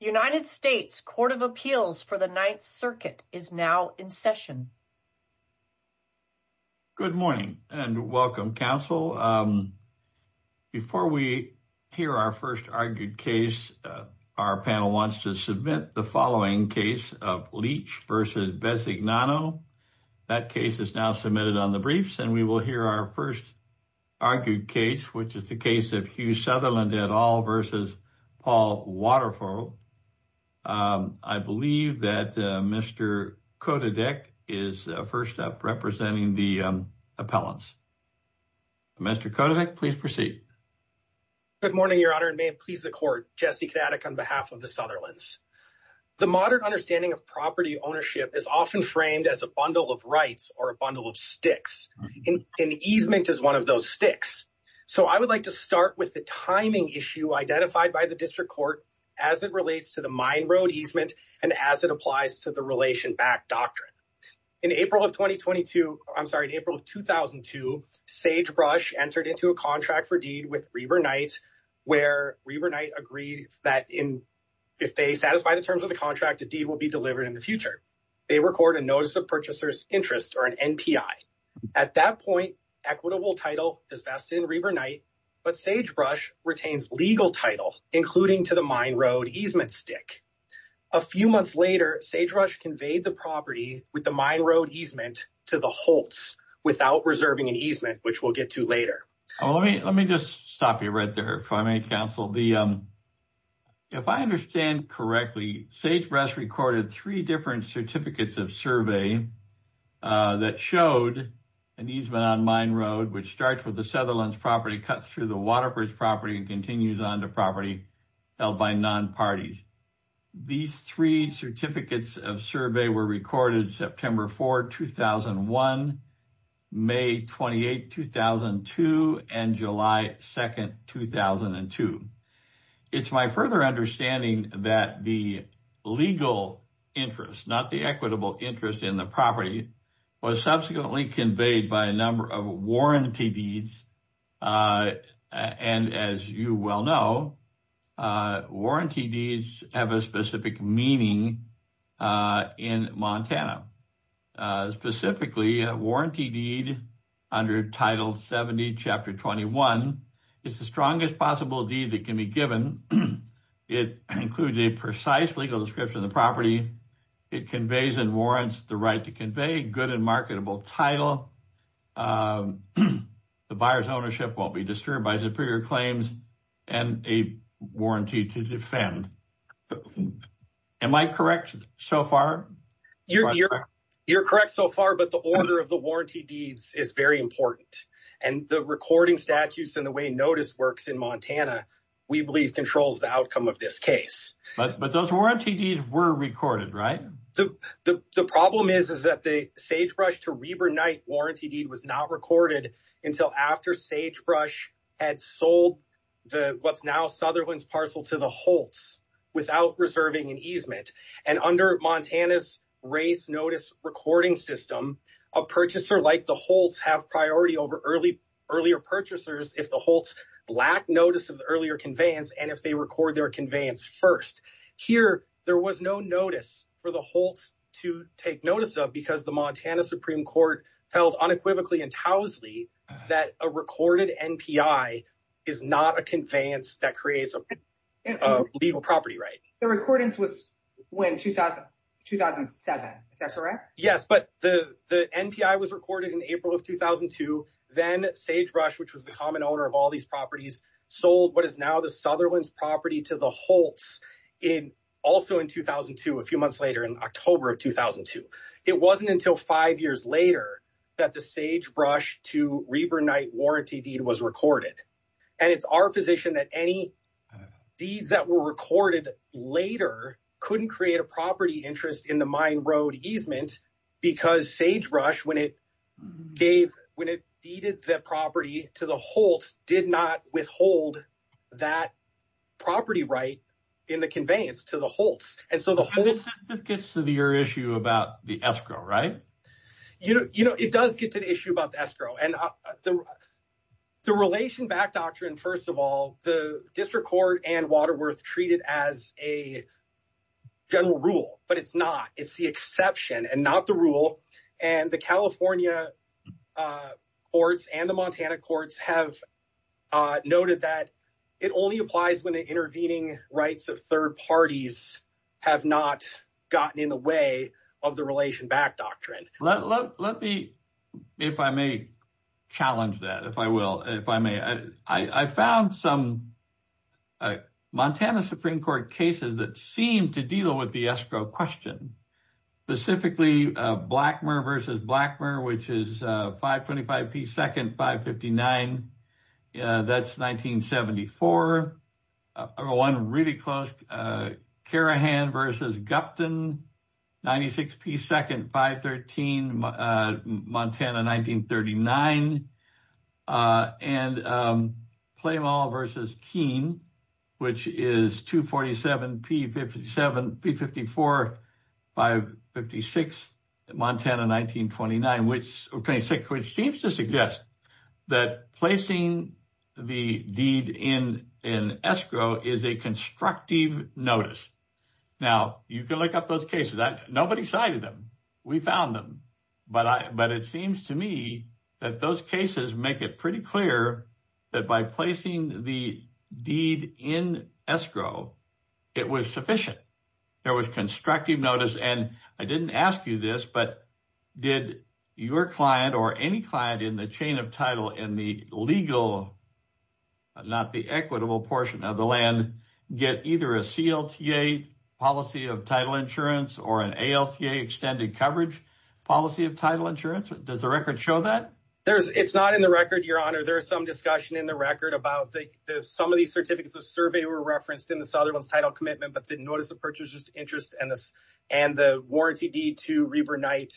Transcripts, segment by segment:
The United States Court of Appeals for the Ninth Circuit is now in session. Good morning and welcome, counsel. Before we hear our first argued case, our panel wants to submit the following case of Leach v. Besignano. That case is now submitted on the briefs and we will hear our first argued case, which is the case of Hugh Sutherland v. Paul Waterford. I believe that Mr. Kodadek is first up representing the appellants. Mr. Kodadek, please proceed. Good morning, Your Honor, and may it please the Court, Jesse Kodadek on behalf of the Sutherlands. The modern understanding of property ownership is often framed as a bundle of rights or a bundle of sticks. An easement is one of those sticks. So I would like to start with the timing issue identified by the district court as it relates to the mine road easement and as it applies to the relation back doctrine. In April of 2022, I'm sorry, in April of 2002, Sagebrush entered into a contract for deed with Reber Knight, where Reber Knight agreed that if they satisfy the terms of the contract, a deed will be delivered in the future. They record a notice of purchaser's interest or an NPI. At that point, equitable title is vested in Reber Knight, but Sagebrush retains legal title, including to the mine road easement stick. A few months later, Sagebrush conveyed the property with the mine road easement to the Holts without reserving an easement, which we'll get to later. Let me just stop you right there if I may, counsel. If I understand correctly, Sagebrush recorded three different certificates of survey that showed an easement on mine road, which starts with the Sutherland's property, cuts through the Waterford's property and continues on to property held by non-parties. These three certificates of survey were recorded September 4, 2001, May 28, 2002, and July 2nd, 2002. It's my further understanding that the legal interest, not the equitable interest in the property was subsequently conveyed by a number of warranty deeds. And as you well know, warranty deeds have a specific meaning in Montana. Specifically, a warranty deed under Title 70, Chapter 21, is the strongest possible deed that can be given. It includes a precise legal description of the property. It conveys and warrants the right to convey good and marketable title. The buyer's ownership won't be disturbed by superior claims and a warranty to defend. Am I correct so far? You're correct so far, but the order of the warranty deeds is very important. And the recording statutes and the way notice works in Montana, we believe controls the outcome of this case. But those warranty deeds were recorded, right? The problem is that the Sagebrush to Heber Knight warranty deed was not recorded until after Sagebrush had sold what's now Sutherland's parcel to the Holtz without reserving an easement. And under Montana's race notice recording system, a purchaser like the Holtz have priority over earlier purchasers if the Holtz lack notice of the earlier conveyance and if they record their conveyance first. Here, there was no notice for the Holtz to take notice of because the Montana Supreme Court held unequivocally and towsely that a recorded NPI is not a conveyance that creates a legal property right. The recordings was when, 2007, is that correct? Yes, but the NPI was recorded in April of 2002. Then Sagebrush, which was the common owner of all these properties, sold what is now the Sutherland's property to the Holtz, also in 2002, a few months later in October of 2002. It wasn't until five years later that the Sagebrush to Heber Knight warranty deed was recorded. And it's our position that any deeds that were recorded later couldn't create a property interest in the Mine Road easement because Sagebrush, when it deeded the property to the Holtz, did not withhold that property right in the conveyance to the Holtz. And this gets to your issue about the escrow, right? You know, it does get to the issue about the escrow. And the relation back doctrine, first of all, the district court and Waterworth treat it as a general rule, but it's not. It's the exception and not the rule. And the California courts and the Montana courts have noted that it only applies when the intervening rights of third parties have not gotten in the way of the relation back doctrine. Let me, if I may challenge that, if I will, if I may. I found some Montana Supreme Court cases that seem to deal with the escrow question, specifically Blackmer versus Blackmer, which is 525 P. Second, 559. That's 1974. One really close Carahan versus Gupton, 96 P. Second, 513, Montana, 1939. And Claymole versus Keene, which is 247 P. 57, P. 54, 556, Montana, 1929, which seems to suggest that placing the deed in an escrow is a constructive notice. Now you can look up those cases. Nobody cited them. We found them, but I, but it seems to me that those cases make it pretty clear that by placing the deed in escrow, it was sufficient. There was constructive notice. And I didn't ask you this, but did your client or any client in the chain of title in the legal, not the equitable portion of the land, get either a CLTA policy of title insurance or an ALTA extended coverage policy of title insurance? Does the record show that? There's, it's not in the record, your honor. There's some discussion in the record about the, some of these certificates of survey were referenced in the Sutherland's title commitment, but the notice of purchasers interest and this, and the warranty deed to Reber Knight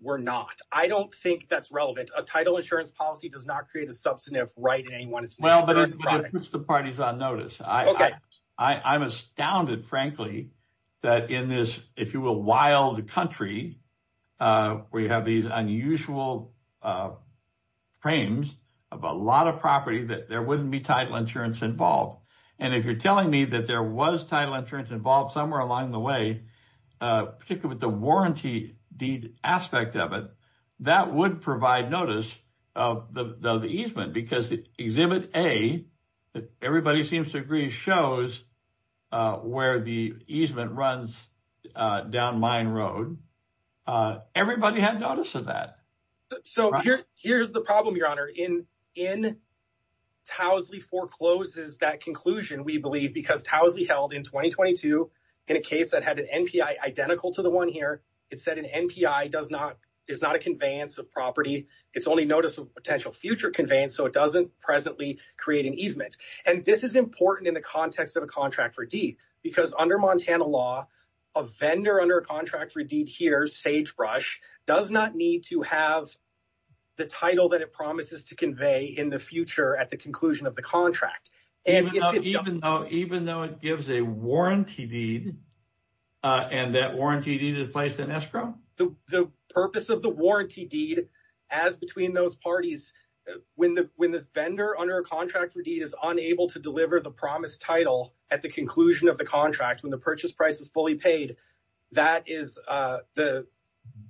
were not. I don't think that's relevant. A title insurance policy does not create a substantive right in any one instance. Well, but it puts the parties on notice. I'm astounded, frankly, that in this, if you will, wild country, we have these unusual frames of a lot of property that there wouldn't be title insurance involved. And if you're telling me that there was title insurance involved somewhere along the way, particularly with the warranty deed aspect of it, that would provide notice of the easement because exhibit A that everybody seems to agree shows where the easement runs down mine road. Everybody had notice of that. So here's the problem, your honor, in Towsley forecloses that conclusion. We believe because Towsley held in 2022, in a case that had an NPI identical to the one here, it said an NPI does not, is not a conveyance of property. It's only notice of potential future conveyance. So it doesn't presently create an easement. And this is important in the context of a contract for D because under Montana law, a vendor under contract for deed here, Sagebrush does not need to have the title that it promises to convey in the future at the conclusion of the contract. And even though, even though it gives a warranty deed and that warranty deed is placed in escrow, the purpose of the warranty deed as between those parties, when the, when this vendor under contract for deed is unable to deliver the promise title at the conclusion of the contract, when the purchase price is fully paid, that is the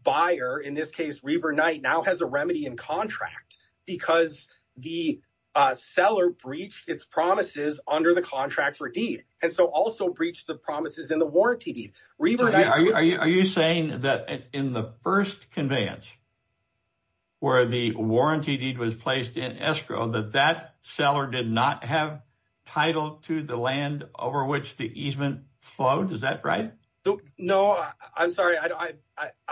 buyer in this case, Reber Knight now has a remedy in contract because the seller breached its promises under the contract for deed. And so also breached the promises in the warranty deed. Are you saying that in the first conveyance where the warranty deed was placed in escrow, that that seller did not have title to the land over which the easement flowed? Is that right? No, I'm sorry. I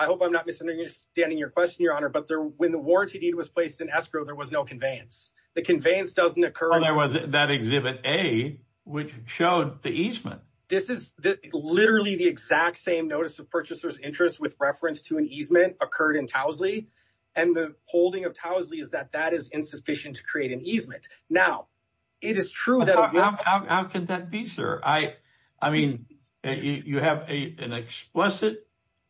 hope I'm not misunderstanding your question, your honor, but there, when the warranty deed was placed in escrow, there was no conveyance. The conveyance doesn't occur. And there was that exhibit a, which showed the easement. This is literally the exact same notice of purchaser's interest with reference to an easement occurred in Towsley. And the holding of Towsley is that that is insufficient to create an easement. Now it is true. How can that be, sir? I mean, you have an explicit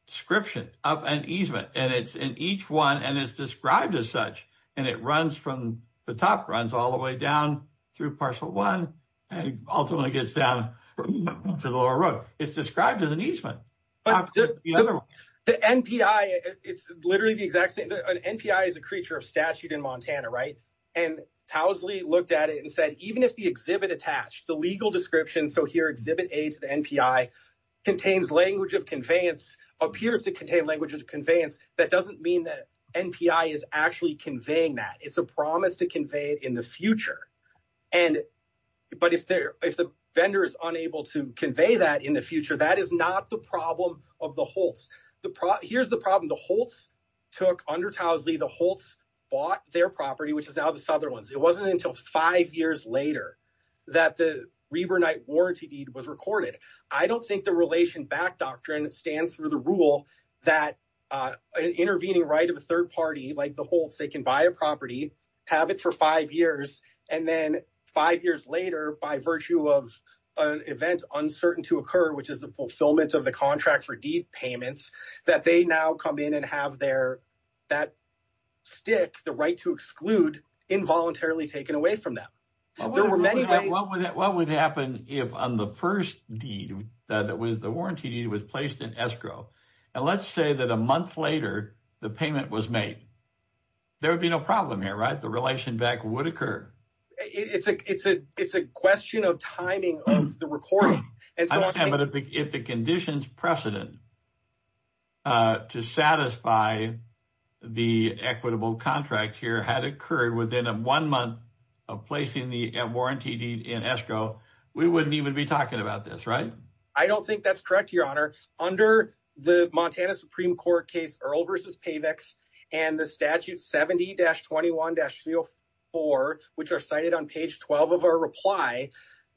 description of an easement and it's in each one and it's described as such, and it runs from the top runs all the way down through parcel one and ultimately gets down to the lower road. It's described as an easement. The NPI, it's literally the exact same. An NPI is a creature statute in Montana, right? And Towsley looked at it and said, even if the exhibit attached, the legal description, so here exhibit a to the NPI contains language of conveyance, appears to contain language of conveyance. That doesn't mean that NPI is actually conveying that it's a promise to convey it in the future. And, but if there, if the vendor is unable to convey that in the future, that is not the problem of the Holtz. Here's the problem. The Holtz took under Towsley, the Holtz bought their property, which is now the Sutherlands. It wasn't until five years later that the Reber Knight warranty deed was recorded. I don't think the relation back doctrine stands through the rule that an intervening right of a third party, like the Holtz, they can buy a property, have it for five years. And then five years later, by virtue of an event uncertain to occur, which is the fulfillment of the contract for deed payments, that they now come in and have their, that stick, the right to exclude involuntarily taken away from them. There were many ways. What would happen if on the first deed that was the warranty deed was placed in escrow. And let's say that a month later, the payment was made. There would be no problem here, right? The relation back would occur. It's a, it's a, it's a question of timing of the recording. And if the conditions precedent to satisfy the equitable contract here had occurred within a one month of placing the warranty deed in escrow, we wouldn't even be talking about this, right? I don't think that's correct, Your Honor. Under the Montana Supreme Court case, Earl versus Pavex and the statute 70-21-304, which are cited on page 12 of our reply,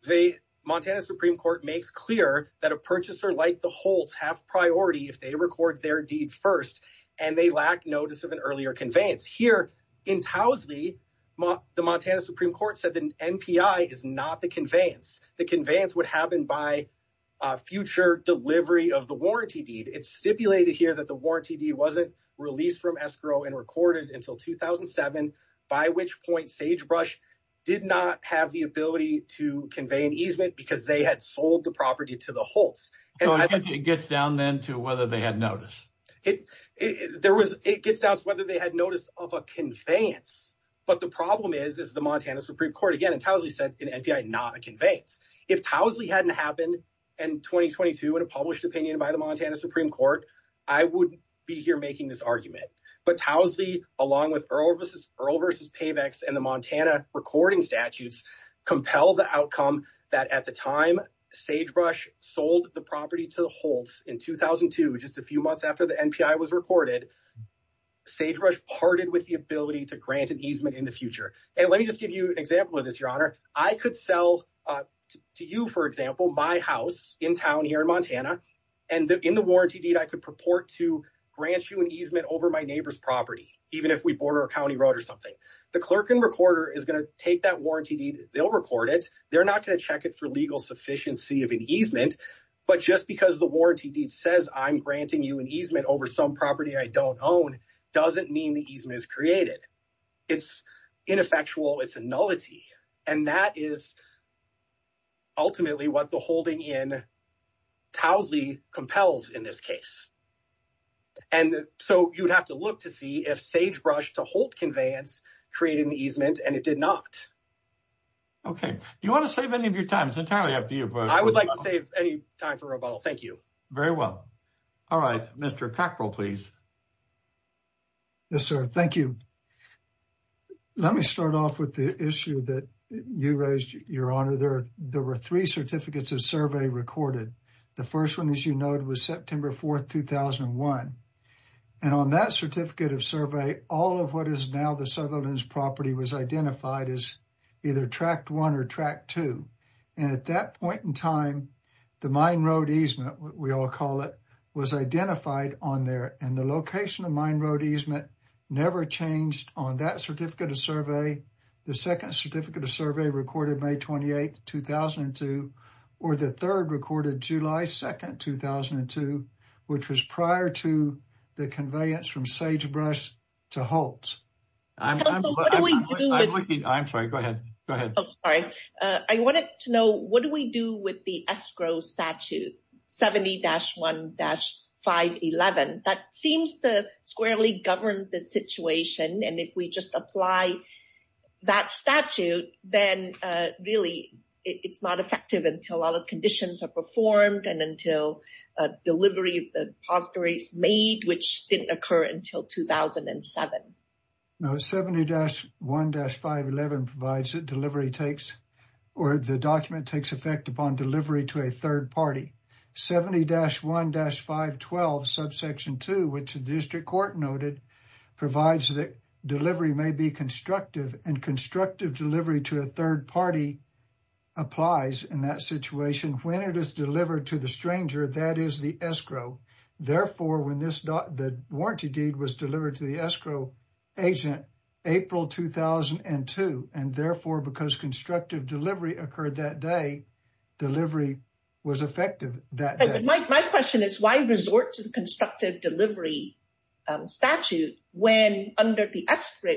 the Montana Supreme Court makes clear that a purchaser like the Holt have priority if they record their deed first and they lack notice of an earlier conveyance. Here in Towsley, the Montana Supreme Court said the NPI is not the conveyance. The conveyance would happen by a future delivery of the warranty deed. It's stipulated here that the warranty deed wasn't released from escrow and recorded until 2007, by which point Sagebrush did not have the ability to convey an easement because they had sold the property to the Holts. So it gets down then to whether they had notice. There was, it gets down to whether they had notice of a conveyance. But the problem is, is the Montana Supreme Court, again, in Towsley said in NPI, not a conveyance. If Towsley hadn't happened in 2022 in a published opinion by the Montana Supreme Court, I wouldn't be here making this argument. But Towsley, along with Earl versus, Earl versus Pavex and the Montana recording statutes, compel the outcome that at the time Sagebrush sold the property to the Holts in 2002, just a few months after the NPI was recorded, Sagebrush parted with the ability to grant an easement in the future. And let me just give you an example of this, your honor. I could sell to you, for example, my house in town here in Montana and in the warranty deed, I could purport to grant you an easement over my neighbor's property, even if we border a county road or something. The clerk and recorder is going to take that warranty deed. They'll record it. They're not going to check it for legal sufficiency of an easement. But just because the warranty deed says I'm granting you an easement over some property I don't own, doesn't mean the easement is created. It's ineffectual. It's a nullity. And that is ultimately what the holding in Towsley compels in this case. And so you'd have to look to see if Sagebrush to Holt conveyance created an easement and it did not. Okay. Do you want to save any of your time? It's entirely up to you. I would like to save any time for rebuttal. Thank you. Very well. All right. Mr. Cockrell, please. Yes, sir. Thank you. Let me start off with the issue that you raised, your honor. There were three certificates of survey recorded. The first one, as you noted, was September 4th, 2001. And on that certificate of survey, all of what is now the Sutherland's property was identified as either Track 1 or Track 2. And at that point in time, the Mine Road easement, we all call it, was identified on there. And the location of Mine Road easement never changed on that certificate of survey. The second certificate of survey recorded May 28th, 2002, or the third recorded July 2nd, 2002, which was prior to the conveyance from Sagebrush to Holt. I'm sorry. Go ahead. Go ahead. Sorry. I wanted to know, what do we do with the escrow statute 70-1-511? That seems to govern the situation. And if we just apply that statute, then really, it's not effective until all the conditions are performed and until delivery of the poster is made, which didn't occur until 2007. No, 70-1-511 provides that delivery takes, or the document takes effect upon delivery to a third party. 70-1-512, subsection 2, which the district court noted, provides that delivery may be constructive, and constructive delivery to a third party applies in that situation. When it is delivered to the stranger, that is the escrow. Therefore, when this, the warranty deed was delivered to the escrow agent April 2002, and therefore, because constructive delivery occurred that day, delivery was effective that day. My question is, why resort to the constructive delivery statute when under the escrow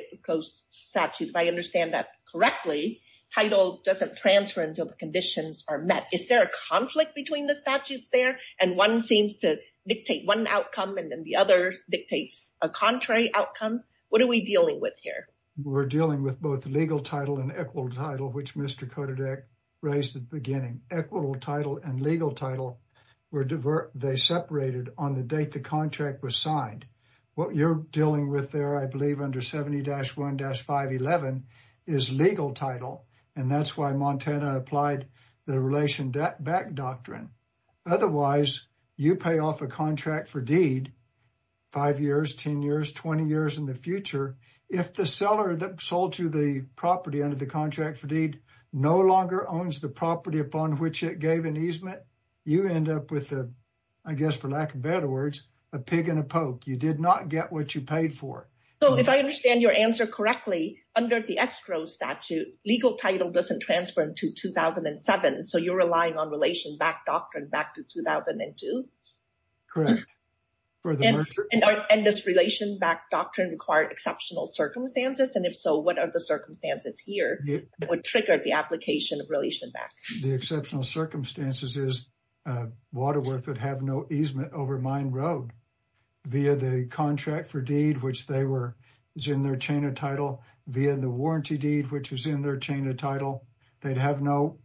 statute, if I understand that correctly, title doesn't transfer until the conditions are met. Is there a conflict between the statutes there? And one seems to dictate one outcome, and then the other dictates a contrary outcome. What are we dealing with here? We're dealing with both legal title and equitable title, which Mr. Kododek raised at the beginning. Equitable title and legal title, they separated on the date the contract was signed. What you're dealing with there, I believe under 70-1-511 is legal title, and that's why Montana applied the relation back doctrine. Otherwise, you pay off a contract for deed, five years, 10 years, 20 years in the future. If the seller that sold you the property under the contract for deed no longer owns the property upon which it gave an easement, you end up with, I guess, for lack of better words, a pig in a poke. You did not get what you paid for. If I understand your answer correctly, under the escrow statute, legal title doesn't transfer until 2007, so you're relying on relation back doctrine back to 2002? Correct. And does relation back doctrine require exceptional circumstances? If so, what are the circumstances here that would trigger the application of relation back? The exceptional circumstances is Waterworth would have no easement over Mine Road via the contract for deed, which is in their chain of title, via the warranty deed, which is in their chain of title. They'd have no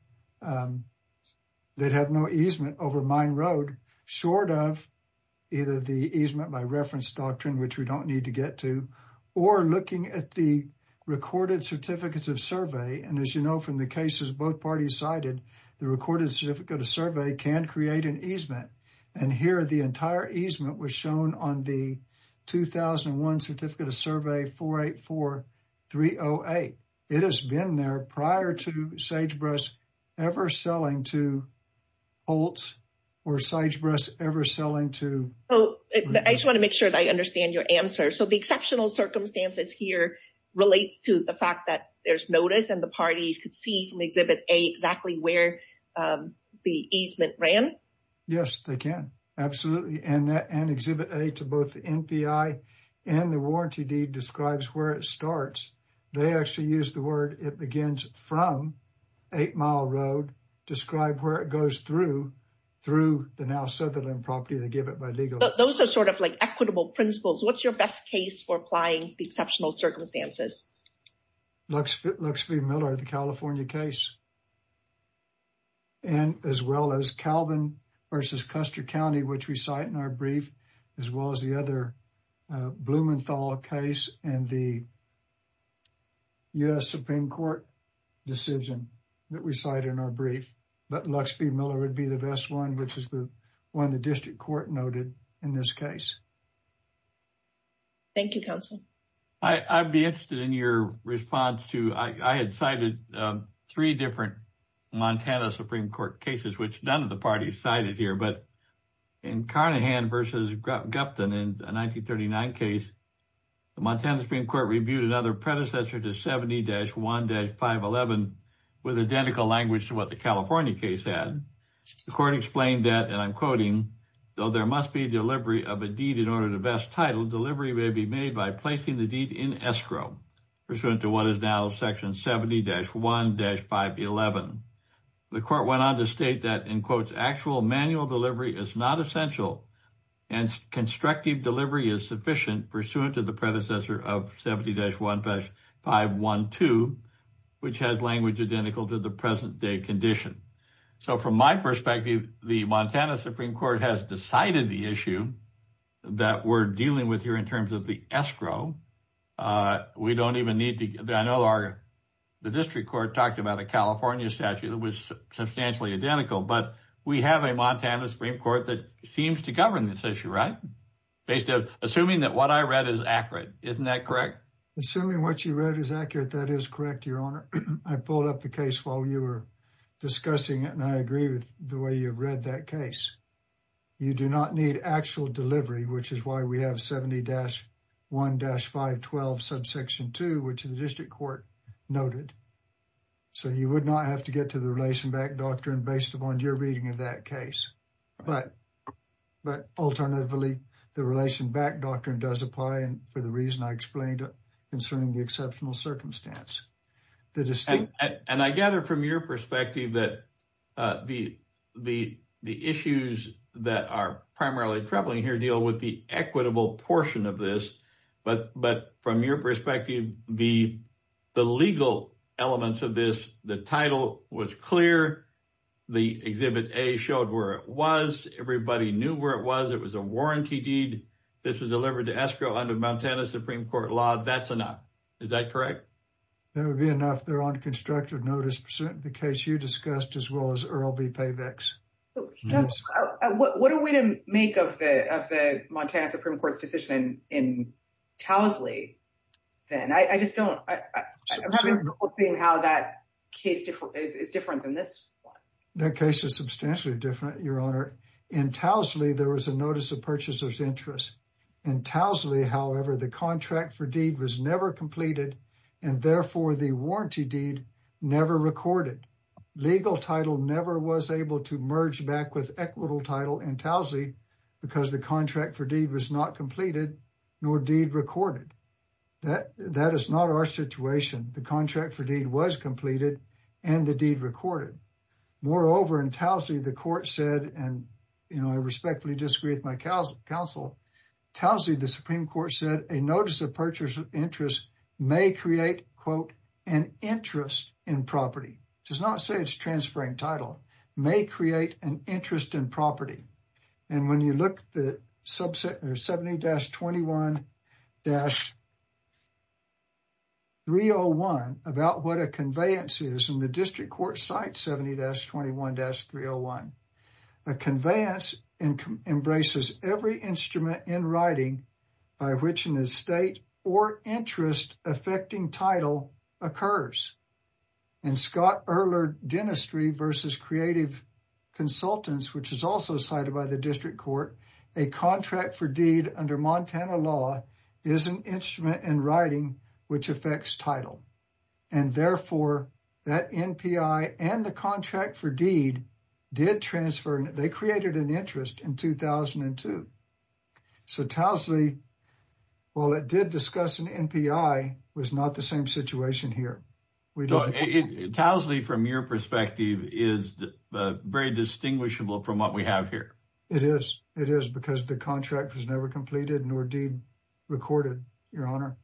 easement over Mine Road short of either the easement by reference doctrine, which we don't need to get to, or looking at the recorded certificates of survey. And as you know from the cases both parties cited, the recorded certificate of survey can create an easement. And here, the entire easement was shown on the 2001 certificate of survey 484308. It has been there prior to Sagebrush ever selling to Holtz or Sagebrush ever selling to... I just want to make sure that I understand your answer. So the exceptional circumstances here relates to the fact that there's notice and the parties could see from Exhibit A exactly where the easement ran? Yes, they can. Absolutely. And Exhibit A to NPI and the warranty deed describes where it starts. They actually use the word it begins from 8 Mile Road, describe where it goes through, through the now Sutherland property, they give it by legal. Those are sort of like equitable principles. What's your best case for applying the exceptional circumstances? Luxville-Miller, the California case. And as well as Calvin versus Custer County, which we cite in our brief, as well as the other Blumenthal case and the U.S. Supreme Court decision that we cite in our brief, but Luxville-Miller would be the best one, which is the one the district court noted in this case. Thank you, counsel. I'd be interested in your response to... I had cited three different Montana Supreme Court cases, which none of the parties cited here, but in Carnahan versus Gupton in a 1939 case, the Montana Supreme Court reviewed another predecessor to 70-1-511 with identical language to what the California case had. The court explained that, and I'm quoting, though there must be a delivery of a deed in order to best title, delivery may be made by placing the deed in escrow, pursuant to what is now Section 70-1-511. The court went on to state that, in quotes, actual manual delivery is not essential and constructive delivery is sufficient pursuant to the predecessor of 70-1-512, which has language identical to the present day condition. So from my perspective, the Montana Supreme Court has decided the issue that we're dealing with here in terms of the escrow. We don't even need to... I know the district court talked about a California statute that was substantially identical, but we have a Montana Supreme Court that seems to govern this issue, right? Assuming that what I read is accurate, isn't that correct? Assuming what you read is accurate, that is correct, your honor. I pulled up the case while you were discussing it, and I agree with the way you've read that case. You do not need actual delivery, which is why we have 70-1-512 subsection 2, which the district court noted. So you would not have to get to the relation back doctrine based upon your reading of that case. But alternatively, the relation back doctrine does apply, and for the reason I explained concerning the exceptional circumstance. The distinct... And I gather from your perspective that the issues that are primarily troubling here deal with the equitable portion of this. But from your perspective, the legal elements of this, the title was clear. The Exhibit A showed where it was. Everybody knew where it was. It was a warranty deed. This was delivered to escrow under Montana Supreme Court law. That's enough. Is that correct? That would be enough. They're on constructive notice pursuit in the case you discussed as well as Earl B. Pavek's. What are we to make of the Montana Supreme Court's decision in Towsley then? I just don't... I'm having trouble seeing how that case is different than this one. That case is substantially different, your honor. In Towsley, there was a notice of purchaser's In Towsley, however, the contract for deed was never completed and therefore the warranty deed never recorded. Legal title never was able to merge back with equitable title in Towsley because the contract for deed was not completed nor deed recorded. That is not our situation. The contract for deed was completed and the deed recorded. Moreover, in Towsley, the court said, and I respectfully disagree with my counsel, Towsley, the Supreme Court said a notice of purchase of interest may create, quote, an interest in property. It does not say it's transferring title. It may create an interest in property. When you look at 70-21-301 about what a conveyance is in the district court site 70-21-301, a conveyance embraces every instrument in writing by which an estate or interest affecting title occurs. In Scott Erler Dentistry versus Creative Consultants, which is also cited by the district court, a contract for deed under Montana law is an instrument in writing which affects title and therefore that NPI and the contract for deed did transfer and they created an interest in 2002. So Towsley, while it did discuss an NPI, was not the same situation here. Towsley, from your perspective, is very distinguishable from what we have here. It is. It is because the contract was never completed nor deed recorded, Your Honor.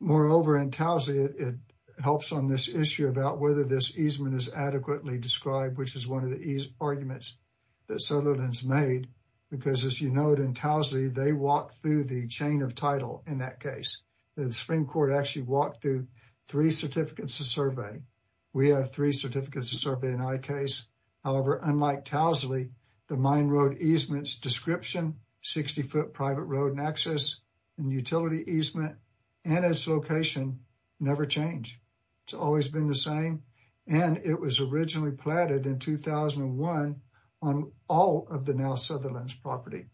Moreover, in Towsley, it helps on this issue about whether this easement is adequately described, which is one of the arguments that Sutherland's made because, as you note in Towsley, they walk through the chain of title in that case. The Supreme Court actually walked through three certificates of survey. We have three certificates of survey in our case. However, unlike Towsley, the mine road easements description, 60-foot private road nexus, and utility easement, and its location never change. It's always been the same and it was originally platted in 2001 on all of the now Sutherland's property.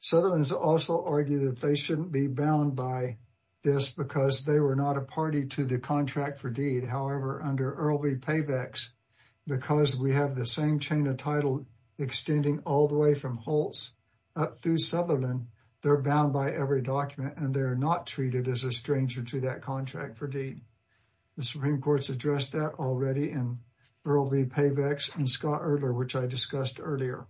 Sutherland's also argued that they shouldn't be bound by this because they were not a party to the contract for deed. However, under Earl v. Pavex, because we have the same chain of title extending all the way from Holtz up through Sutherland, they're bound by every document and they're not treated as a stranger to that contract for deed. The Supreme Court's addressed that already in Earl v. Pavex and Scott Erdler, which I discussed earlier.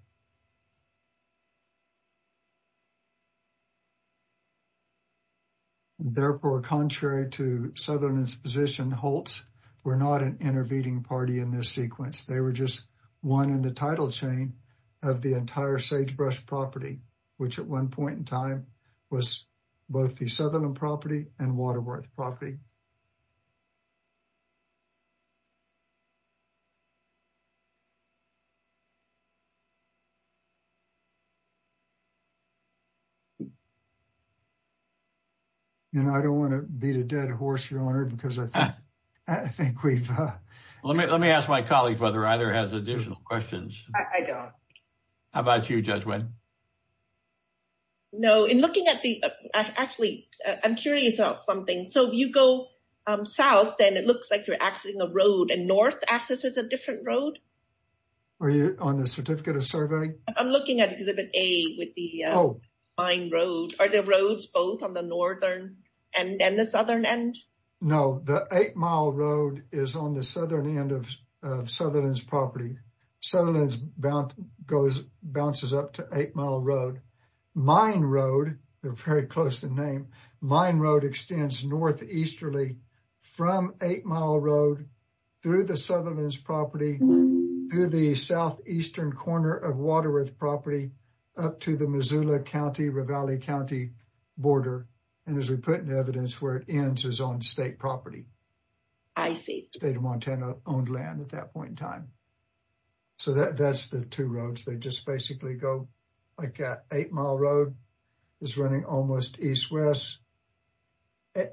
Therefore, contrary to Sutherland's position, Holtz were not an intervening party in this sequence. They were just one in the title chain of the entire Sagebrush property, which at one point in time was both the Sutherland property and Waterworth property. And I don't want to beat a dead horse, Your Honor, because I think we've... Let me ask my colleague whether either has additional questions. I don't. How about you, Judge Wendt? No, in looking at the... Actually, I'm curious about something. So if you go south, then it looks like you're accessing a road and north access is a different road? Are you on the certificate of survey? I'm looking at exhibit A with the Mine Road. Are the roads both on the northern and then the southern end? No, the Eight Mile Road is on the southern end of Sutherland's property. Sutherland's goes, bounces up to Eight Mile Road. Mine Road, they're very close in name, Mine Road extends northeasterly from Eight Mile Road through the Sutherland's property to the southeastern corner of Waterworth property up to the Missoula County, Ravalli County border. And as we put in evidence where it ends is on state property. I see. State of Montana owned land at that point in time. So that's the two roads. They just basically go like that. Eight Mile Road is running almost east-west.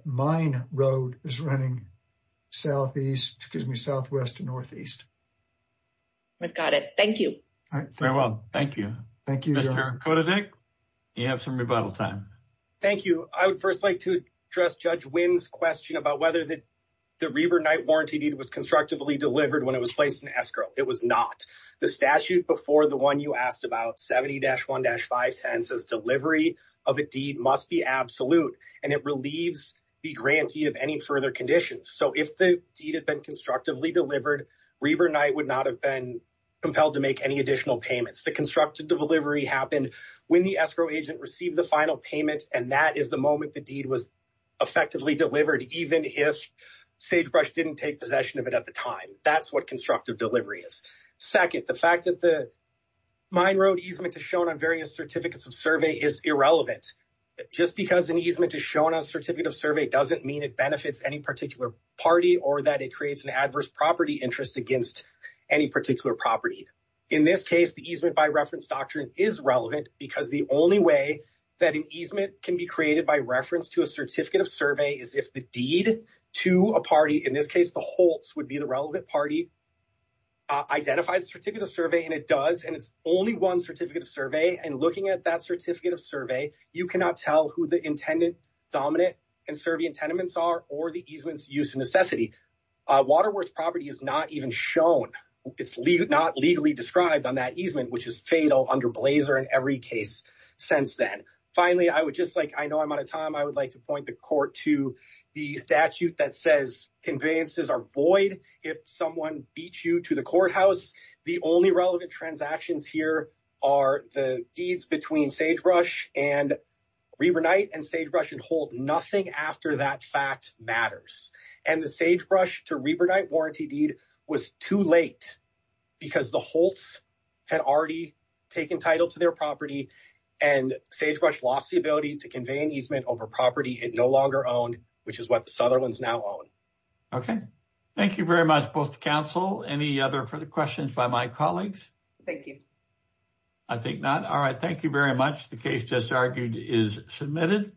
Mine Road is running southeast, excuse me, southwest to northeast. We've got it. Thank you. Farewell. Thank you. Thank you. You have some rebuttal time. Thank you. I would first like to address Judge Wendt's question about whether the Reber-Knight warranty deed was constructively delivered when it was placed in escrow. It was not. The statute before the one you asked about, 70-1-510, says delivery of a deed must be absolute and it relieves the grantee of any further conditions. So if the deed had been constructively delivered, Reber-Knight would not have been compelled to make any additional payments. The constructed delivery happened when the escrow agent received the final payment and that is the moment the deed was effectively delivered, even if Sagebrush didn't take possession of it at the time. That's what constructive delivery is. Second, the fact that the Mine Road easement is shown on various certificates of survey is irrelevant. Just because an easement is shown on a certificate of survey doesn't mean it benefits any particular party or that it creates an adverse property interest against any particular property. In this case, the easement by reference doctrine is relevant because the only way that an easement can be created by reference to a certificate of survey is if the deed to a party, in this case the Holtz would be the relevant party, identifies a certificate of survey and it does. And it's only one certificate of survey and looking at that certificate of survey, you cannot tell who the intendant, dominant, and survey intendants are or the easement's use of necessity. Waterworth property is not even shown. It's not legally described on that easement, which is fatal under Blazer in every case since then. Finally, I would just like, I know I'm out of time, I would like to point the court to the statute that says conveyances are void if someone beats you to the courthouse. The only relevant transactions here are the deeds between Sagebrush and Reber Knight and Sagebrush and Holt. Nothing after that fact matters. And the Sagebrush to Reber Knight warranty deed was too late because the Holtz had already taken title to their property and Sagebrush lost the ability to convey an easement over property it no longer owned, which is what the Sutherlands now own. Okay. Thank you very much, both the council. Any other further questions by my colleagues? Thank you. I think not. All right. Thank you very much. The case just argued is submitted.